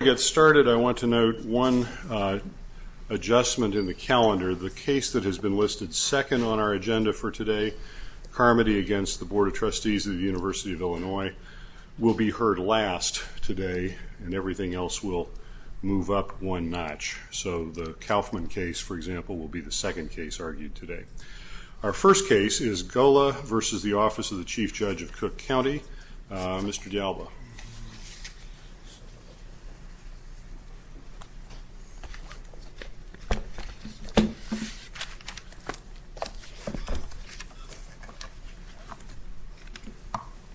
To get started, I want to note one adjustment in the calendar. The case that has been listed second on our agenda for today, Carmody v. Board of Trustees of the University of Illinois, will be heard last today and everything else will move up one notch. So the Kaufman case, for example, will be the second case argued today. Our first case is Golla v. Office of the Chief Judge of Cook County. Mr. D'Alba.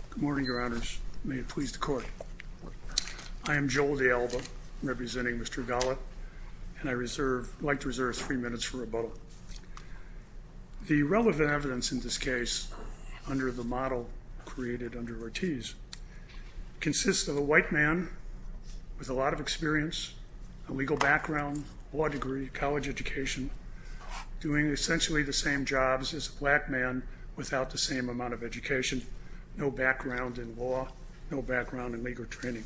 Good morning, Your Honors. May it please the Court. I am Joel D'Alba, representing Mr. Golla, and I'd like to reserve three minutes for rebuttal. The relevant evidence in this case, under the model created under Ortiz, consists of a white man with a lot of experience, a legal background, law degree, college education, doing essentially the same jobs as a black man without the same amount of education, no background in law, no background in legal training.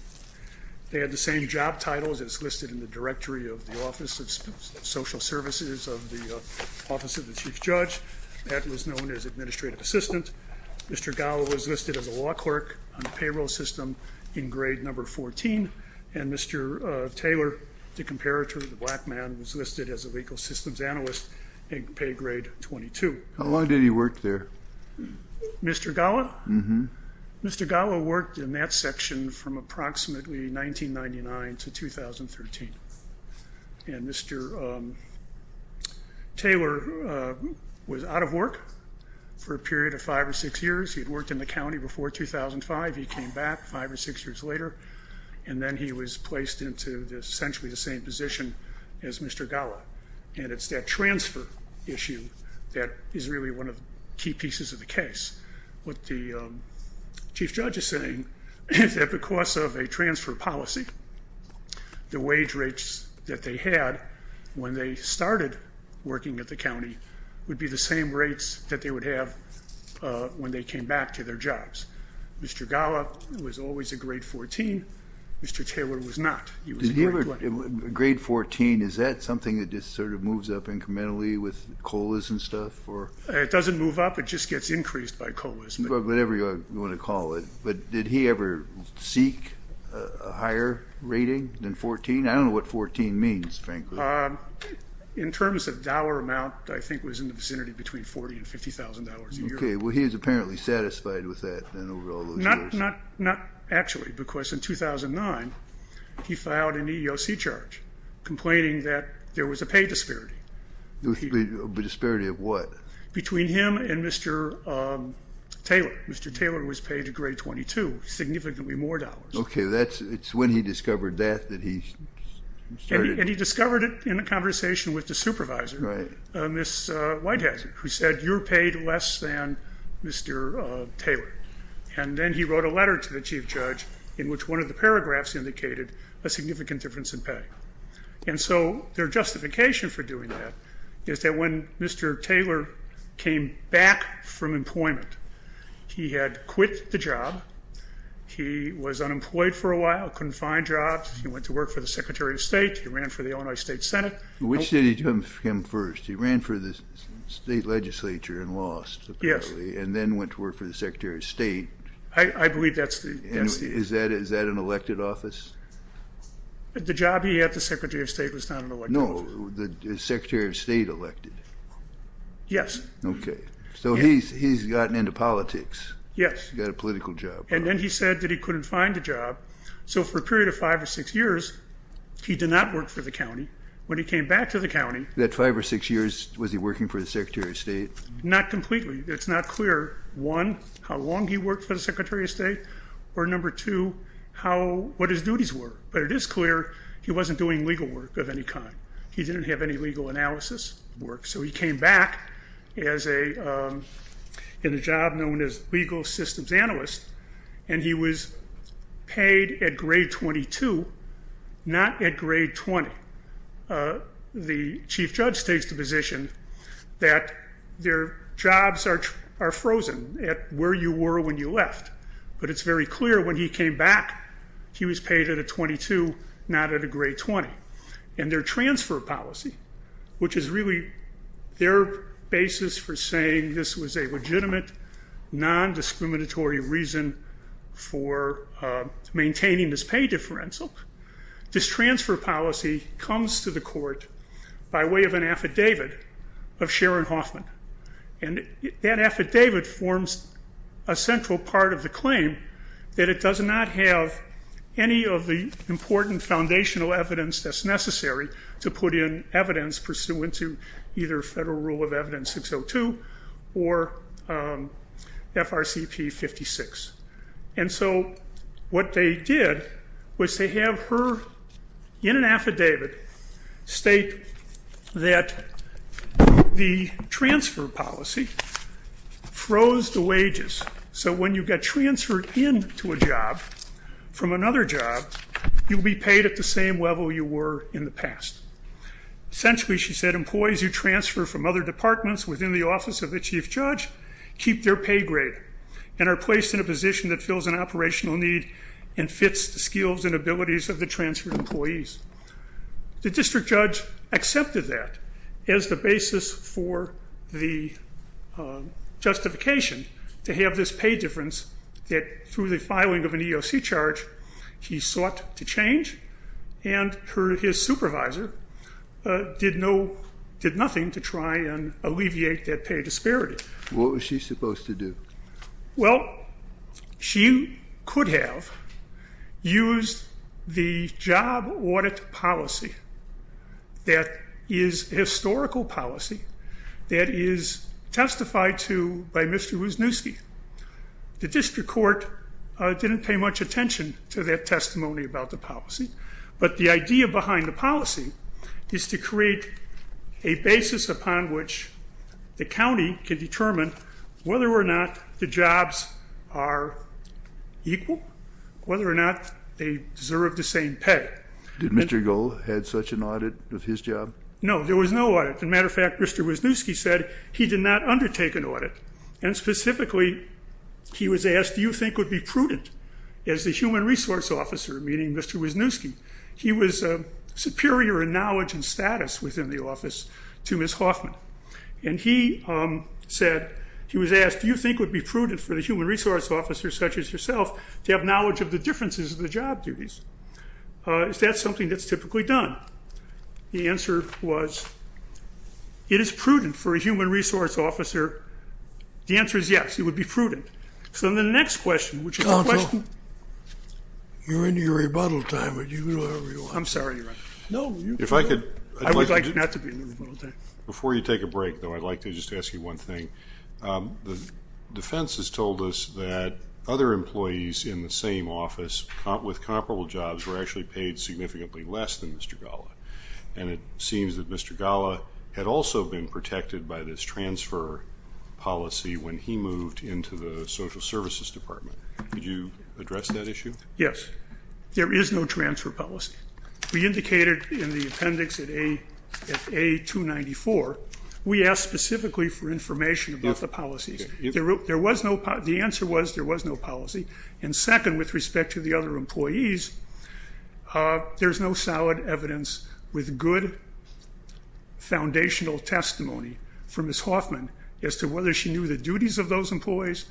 They had the same job titles as listed in the directory of the Office of Social Services of the Office of the Chief Judge. That was known as administrative assistant. Mr. Golla was listed as a law clerk on the payroll system in grade number 14, and Mr. Taylor, the comparator of the black man, was listed as a legal systems analyst in pay grade 22. How long did he work there? Mr. Golla? Mr. Golla worked in that section from approximately 1999 to 2013, and Mr. Taylor was out of work for a period of five or six years. He had worked in the county before 2005. He came back five or six years later, and then he was placed into essentially the same position as Mr. Golla. And it's that transfer issue that is really one of the key pieces of the case. What the Chief Judge is saying is that because of a transfer policy, the wage rates that they had when they started working at the county would be the same rates that they would have when they came back to their jobs. Mr. Golla was always a grade 14. Mr. Taylor was not. Grade 14, is that something that just sort of moves up incrementally with COLAs and stuff? It doesn't move up. It just gets increased by COLAs. Whatever you want to call it. But did he ever seek a higher rating than 14? I don't know what 14 means, frankly. In terms of dollar amount, I think it was in the vicinity between $40,000 and $50,000 a year. Okay. Well, he was apparently satisfied with that over all those years. Not actually, because in 2009, he filed an EEOC charge, complaining that there was a pay disparity. A disparity of what? Between him and Mr. Taylor. Mr. Taylor was paid a grade 22, significantly more dollars. Okay. It's when he discovered that that he started... And he discovered it in a conversation with the supervisor, Ms. Whitehazard, who said, you're paid less than Mr. Taylor. And then he wrote a letter to the chief judge in which one of the paragraphs indicated a significant difference in pay. And so their justification for doing that is that when Mr. Taylor came back from employment, he had quit the job. He was unemployed for a while, couldn't find jobs. He went to work for the Secretary of State. He ran for the Illinois State Senate. Which did he do him first? He ran for the state legislature and lost, apparently. And then went to work for the Secretary of State. I believe that's the... Is that an elected office? The job he had at the Secretary of State was not an elected office. No, the Secretary of State elected. Yes. Okay. So he's gotten into politics. Yes. Got a political job. And then he said that he couldn't find a job. So for a period of five or six years, he did not work for the county. When he came back to the county... That five or six years, was he working for the Secretary of State? Not completely. It's not clear, one, how long he worked for the Secretary of State. Or number two, what his duties were. But it is clear he wasn't doing legal work of any kind. He didn't have any legal analysis work. So he came back in a job known as legal systems analyst. And he was paid at grade 22, not at grade 20. The chief judge takes the position that their jobs are frozen at where you were when you left. But it's very clear when he came back, he was paid at a 22, not at a grade 20. And their transfer policy, which is really their basis for saying this was a legitimate, non-discriminatory reason for maintaining this pay differential. This transfer policy comes to the court by way of an affidavit of Sharon Hoffman. And that affidavit forms a central part of the claim that it does not have any of the important foundational evidence that's necessary to put in evidence pursuant to either Federal Rule of Evidence 602 or FRCP 56. And so what they did was to have her, in an affidavit, state that the transfer policy froze the wages. So when you got transferred in to a job from another job, you'll be paid at the same level you were in the past. Essentially, she said, employees who transfer from other departments within the office of the chief judge keep their pay grade and are placed in a position that fills an operational need and fits the skills and abilities of the transferred employees. The district judge accepted that as the basis for the justification to have this pay difference that, through the filing of an EEOC charge, he sought to change. And his supervisor did nothing to try and alleviate that pay disparity. What was she supposed to do? Well, she could have used the job audit policy that is historical policy that is testified to by Mr. Wozniewski. The district court didn't pay much attention to that testimony about the policy. But the idea behind the policy is to create a basis upon which the county can determine whether or not the jobs are equal, whether or not they deserve the same pay. Did Mr. Gohl have such an audit of his job? No, there was no audit. As a matter of fact, Mr. Wozniewski said he did not undertake an audit, and specifically he was asked, do you think it would be prudent as the human resource officer, meaning Mr. Wozniewski, he was superior in knowledge and status within the office to Ms. Hoffman. And he said, he was asked, do you think it would be prudent for the human resource officer, such as yourself, to have knowledge of the differences of the job duties? Is that something that's typically done? The answer was, it is prudent for a human resource officer. The answer is yes, it would be prudent. So then the next question, which is the question... I'm sorry, Your Honor. I would like not to be in the rebuttal time. Before you take a break, though, I'd like to just ask you one thing. The defense has told us that other employees in the same office with comparable jobs were actually paid significantly less than Mr. Gala, and it seems that Mr. Gala had also been protected by this transfer policy when he moved into the Social Services Department. Could you address that issue? Yes. There is no transfer policy. We indicated in the appendix at A294, we asked specifically for information about the policies. The answer was there was no policy. And second, with respect to the other employees, there's no solid evidence with good foundational testimony for Ms. Hoffman as to whether she knew the duties of those employees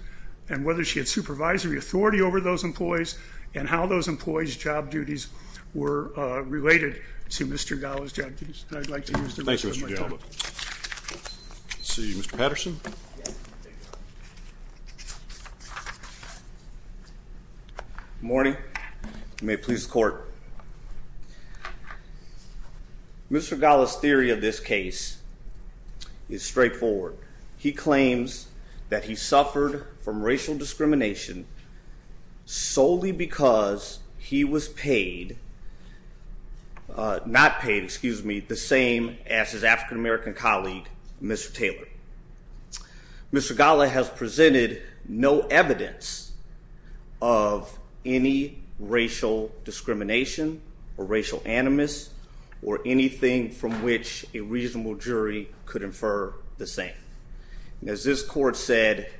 and whether she had supervisory authority over those employees and how those employees' job duties were related to Mr. Gala's job duties. And I'd like to use the rest of my time. Thank you, Mr. Gallo. Let's see, Mr. Patterson. Good morning. You may please court. Mr. Gala's theory of this case is straightforward. He claims that he suffered from racial discrimination solely because he was paid, not paid, excuse me, the same as his African-American colleague, Mr. Taylor. Mr. Gala has presented no evidence of any racial discrimination or racial animus or anything from which a reasonable jury could infer the same. As this court said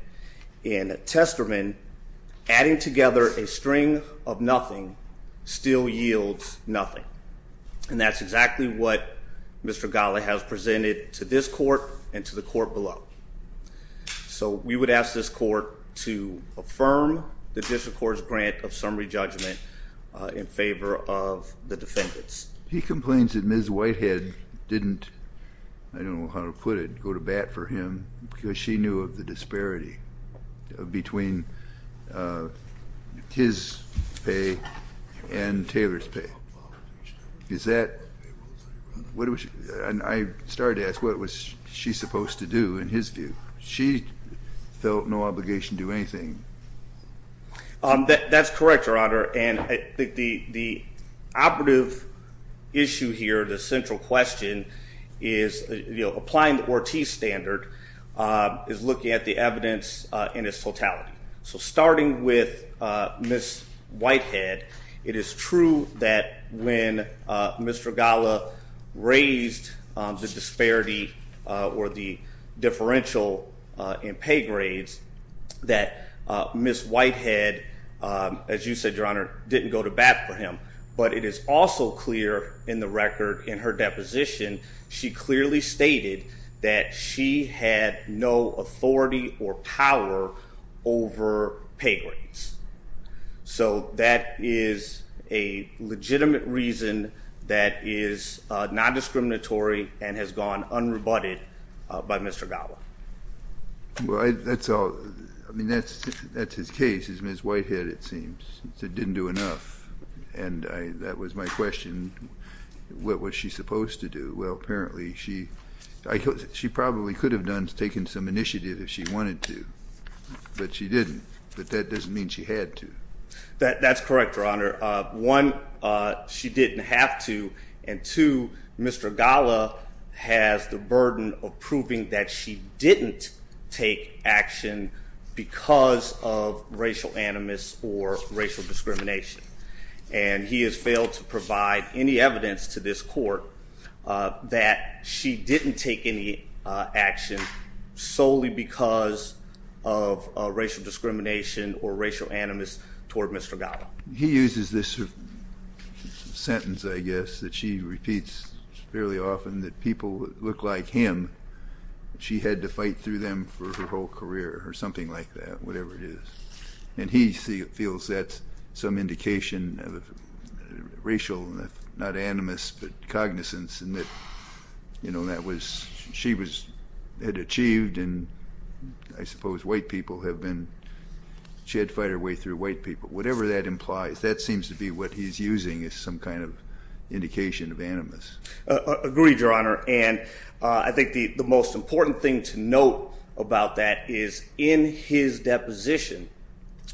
in a testament, adding together a string of nothing still yields nothing. And that's exactly what Mr. Gala has presented to this court and to the court below. So we would ask this court to affirm the district court's grant of summary judgment in favor of the defendants. He complains that Ms. Whitehead didn't, I don't know how to put it, go to bat for him because she knew of the disparity between his pay and Taylor's pay. Is that, and I started to ask, what was she supposed to do in his view? She felt no obligation to do anything. That's correct, Your Honor, and I think the operative issue here, the central question, is applying the Ortiz standard is looking at the evidence in its totality. So starting with Ms. Whitehead, it is true that when Mr. Gala raised the disparity or the differential in pay grades, that Ms. Whitehead, as you said, Your Honor, didn't go to bat for him. But it is also clear in the record in her deposition, she clearly stated that she had no authority or power over pay grades. So that is a legitimate reason that is non-discriminatory and has gone unrebutted by Mr. Gala. Well, that's all, I mean, that's his case, is Ms. Whitehead, it seems. It didn't do enough, and that was my question. What was she supposed to do? Well, apparently she probably could have taken some initiative if she wanted to, but she didn't. But that doesn't mean she had to. That's correct, Your Honor. One, she didn't have to. And two, Mr. Gala has the burden of proving that she didn't take action because of racial animus or racial discrimination. And he has failed to provide any evidence to this court that she didn't take any action solely because of racial discrimination or racial animus toward Mr. Gala. He uses this sentence, I guess, that she repeats fairly often, that people look like him. She had to fight through them for her whole career or something like that, whatever it is. And he feels that's some indication of racial, not animus, but cognizance, and that she had achieved and I suppose white people have been, she had to fight her way through white people. Whatever that implies, that seems to be what he's using as some kind of indication of animus. Agreed, Your Honor. And I think the most important thing to note about that is in his deposition,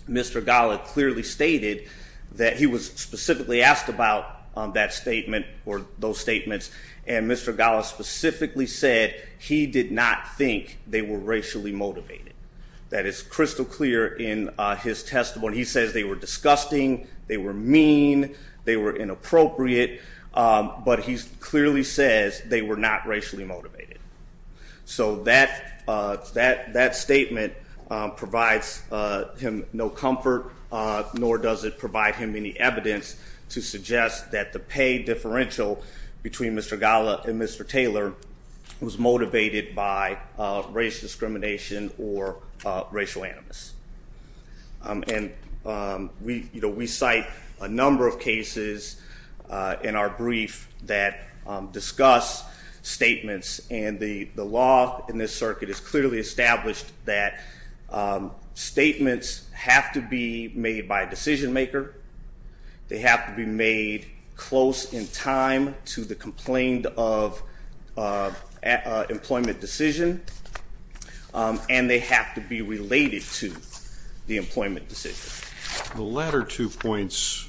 Mr. Gala clearly stated that he was specifically asked about that statement or those statements, and Mr. Gala specifically said he did not think they were racially motivated. That is crystal clear in his testimony. He says they were disgusting, they were mean, they were inappropriate, but he clearly says they were not racially motivated. So that statement provides him no comfort, nor does it provide him any evidence to suggest that the pay differential between Mr. Gala and Mr. Taylor was motivated by racial discrimination or racial animus. And we cite a number of cases in our brief that discuss statements, and the law in this circuit has clearly established that statements have to be made by a decision maker, they have to be made close in time to the complaint of employment decision, and they have to be related to the employment decision. The latter two points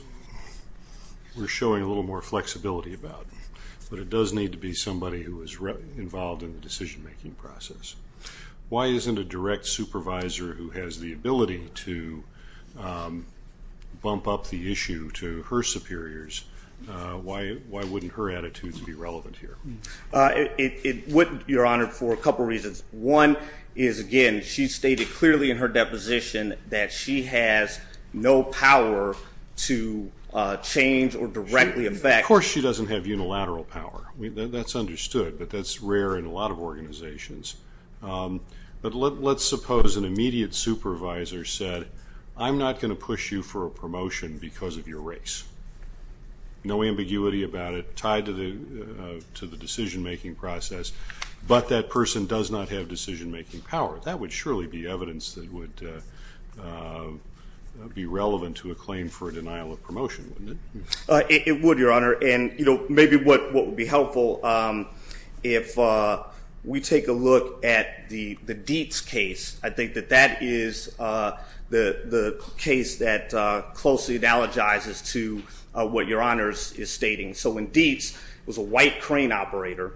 we're showing a little more flexibility about, but it does need to be somebody who is involved in the decision-making process. Why isn't a direct supervisor who has the ability to bump up the issue to her superiors, why wouldn't her attitude be relevant here? It wouldn't, Your Honor, for a couple of reasons. One is, again, she stated clearly in her deposition that she has no power to change or directly affect Of course she doesn't have unilateral power. That's understood, but that's rare in a lot of organizations. But let's suppose an immediate supervisor said, I'm not going to push you for a promotion because of your race. No ambiguity about it tied to the decision-making process, but that person does not have decision-making power. That would surely be evidence that would be relevant to a claim for a denial of promotion, wouldn't it? It would, Your Honor, and maybe what would be helpful, if we take a look at the Dietz case, I think that that is the case that closely analogizes to what Your Honor is stating. So when Dietz was a white crane operator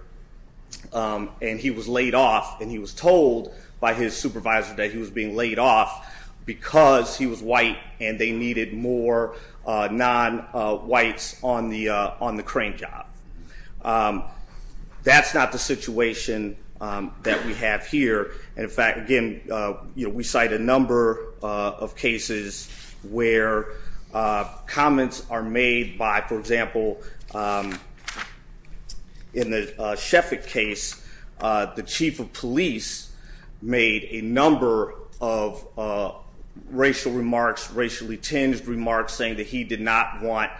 and he was laid off, and he was told by his supervisor that he was being laid off because he was white and they needed more non-whites on the crane job. That's not the situation that we have here. In fact, again, we cite a number of cases where comments are made by, for example, in the Sheffick case, the chief of police made a number of racial remarks, racially tinged remarks saying that he did not want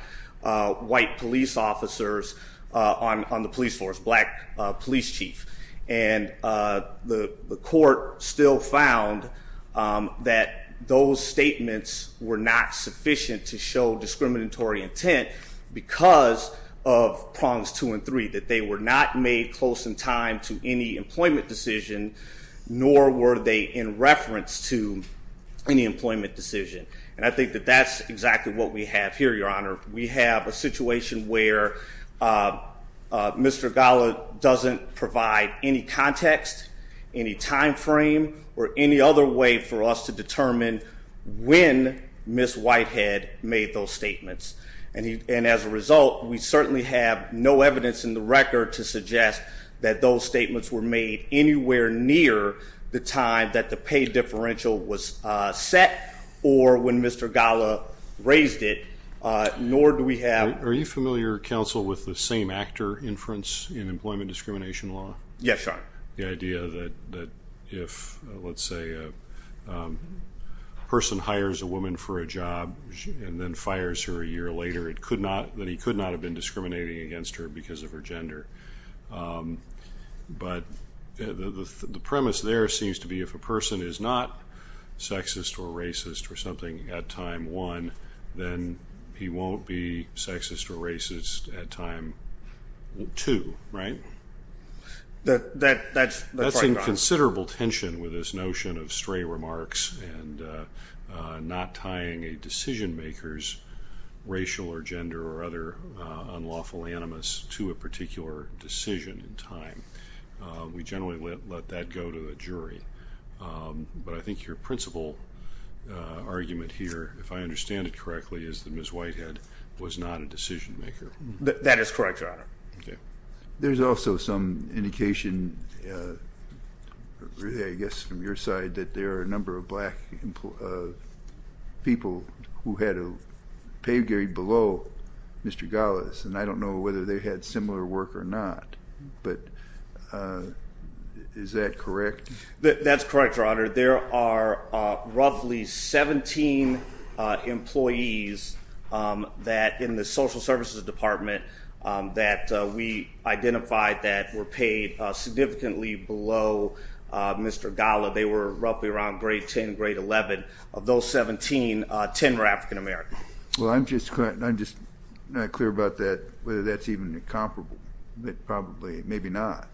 white police officers on the police force, black police chief. And the court still found that those statements were not sufficient to show discriminatory intent because of prongs two and three, that they were not made close in time to any employment decision, nor were they in reference to any employment decision. And I think that that's exactly what we have here, Your Honor. We have a situation where Mr. Gala doesn't provide any context, any time frame, or any other way for us to determine when Ms. Whitehead made those statements. And as a result, we certainly have no evidence in the record to suggest that those statements were made anywhere near the time that the pay differential was set or when Mr. Gala raised it, nor do we have. Are you familiar, counsel, with the same actor inference in employment discrimination law? Yes, Your Honor. The idea that if, let's say, a person hires a woman for a job and then fires her a year later, that he could not have been discriminating against her because of her gender. But the premise there seems to be if a person is not sexist or racist or something at time one, then he won't be sexist or racist at time two, right? That's right, Your Honor. That's in considerable tension with this notion of stray remarks and not tying a decision maker's racial or gender or other unlawful animus to a particular decision in time. We generally let that go to the jury. But I think your principal argument here, if I understand it correctly, is that Ms. Whitehead was not a decision maker. That is correct, Your Honor. There's also some indication, really I guess from your side, that there are a number of black people who had a pay grade below Mr. Gala's, and I don't know whether they had similar work or not. But is that correct? That's correct, Your Honor. There are roughly 17 employees that in the social services department that we identified that were paid significantly below Mr. Gala. They were roughly around grade 10, grade 11. Of those 17, 10 were African American. Well, I'm just not clear about that, whether that's even comparable. Probably, maybe not.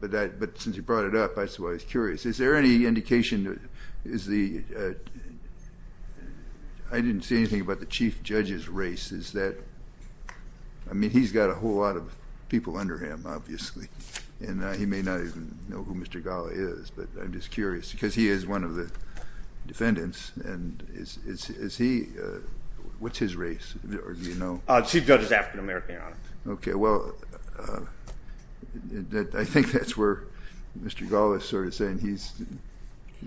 But since you brought it up, that's why I was curious. Is there any indication, is the, I didn't see anything about the chief judge's race. Is that, I mean, he's got a whole lot of people under him, obviously. And he may not even know who Mr. Gala is. But I'm just curious, because he is one of the defendants. And is he, what's his race, or do you know? Chief judge is African American, Your Honor. Okay, well, I think that's where Mr. Gala is sort of saying he's,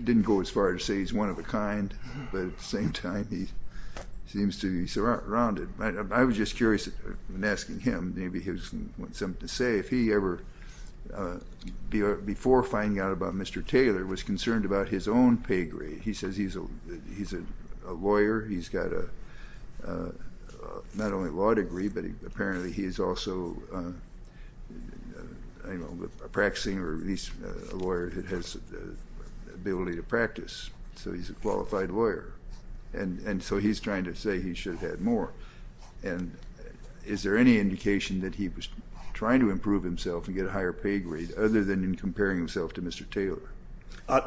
didn't go as far as to say he's one of a kind. But at the same time, he seems to be surrounded. I was just curious, in asking him, maybe he wants something to say. If he ever, before finding out about Mr. Taylor, was concerned about his own pay grade. He says he's a lawyer. He's got a, not only a law degree, but apparently he is also a practicing or at least a lawyer that has the ability to practice. So he's a qualified lawyer. And so he's trying to say he should have had more. And is there any indication that he was trying to improve himself and get a higher pay grade, other than in comparing himself to Mr. Taylor?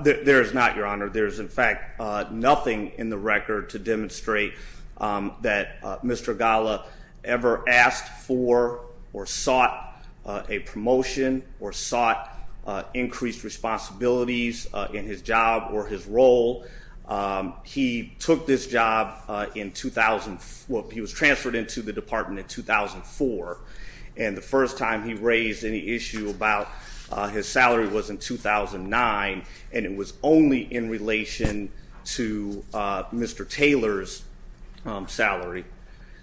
There is not, Your Honor. There is, in fact, nothing in the record to demonstrate that Mr. Gala ever asked for or sought a promotion or sought increased responsibilities in his job or his role. He took this job in 2000, well, he was transferred into the department in 2004. And the first time he raised any issue about his salary was in 2009. And it was only in relation to Mr. Taylor's salary.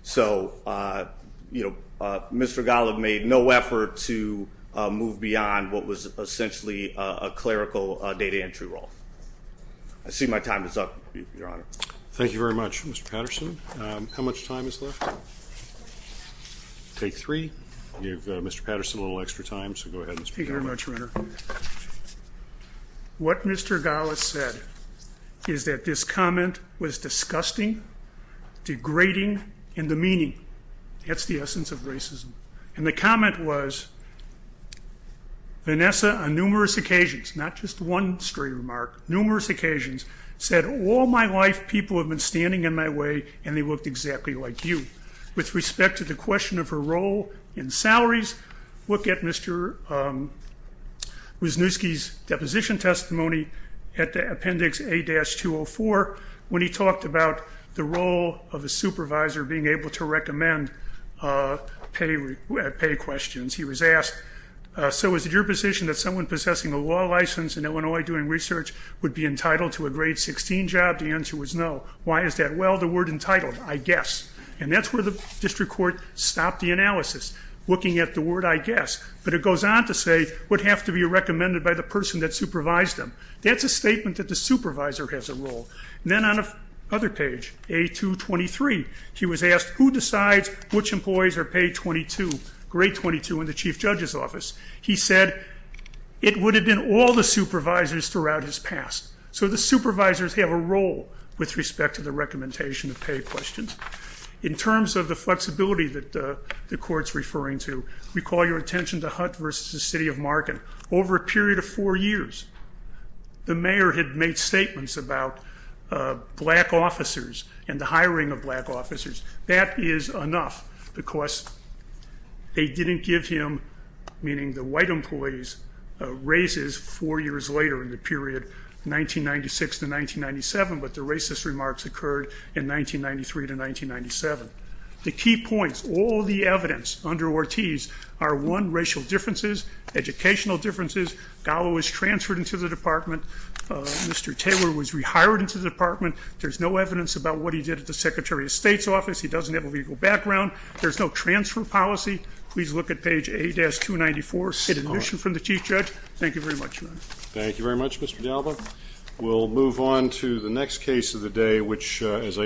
So Mr. Gala made no effort to move beyond what was essentially a clerical data entry role. I see my time is up, Your Honor. Thank you very much, Mr. Patterson. How much time is left? Take three. Give Mr. Patterson a little extra time. Go ahead, Mr. Patterson. Thank you very much, Your Honor. What Mr. Gala said is that this comment was disgusting, degrading, and demeaning. That's the essence of racism. And the comment was, Vanessa, on numerous occasions, not just one straight remark, numerous occasions, said, all my life people have been standing in my way and they looked exactly like you. With respect to the question of her role in salaries, look at Mr. Wisniewski's deposition testimony at Appendix A-204 when he talked about the role of a supervisor being able to recommend pay questions. He was asked, so is it your position that someone possessing a law license in Illinois doing research would be entitled to a grade 16 job? The answer was no. Why is that? Well, the word entitled, I guess. And that's where the district court stopped the analysis, looking at the word, I guess. But it goes on to say, would have to be recommended by the person that supervised them. That's a statement that the supervisor has a role. Then on the other page, A-223, he was asked, who decides which employees are paid 22, grade 22 in the chief judge's office? He said it would have been all the supervisors throughout his past. So the supervisors have a role with respect to the recommendation of pay questions. In terms of the flexibility that the court's referring to, recall your attention to Hutt versus the city of Markham. Over a period of four years, the mayor had made statements about black officers and the hiring of black officers. That is enough because they didn't give him, meaning the white employees, raises four years later in the period 1996 to 1997, but the racist remarks occurred in 1993 to 1997. The key points, all the evidence under Ortiz are, one, racial differences, educational differences. Gallo was transferred into the department. Mr. Taylor was rehired into the department. There's no evidence about what he did at the secretary of state's office. He doesn't have a legal background. There's no transfer policy. Please look at page A-294. An admission from the chief judge. Thank you very much, Your Honor. Thank you very much, Mr. Gallo. We'll move on to the next case of the day, which as I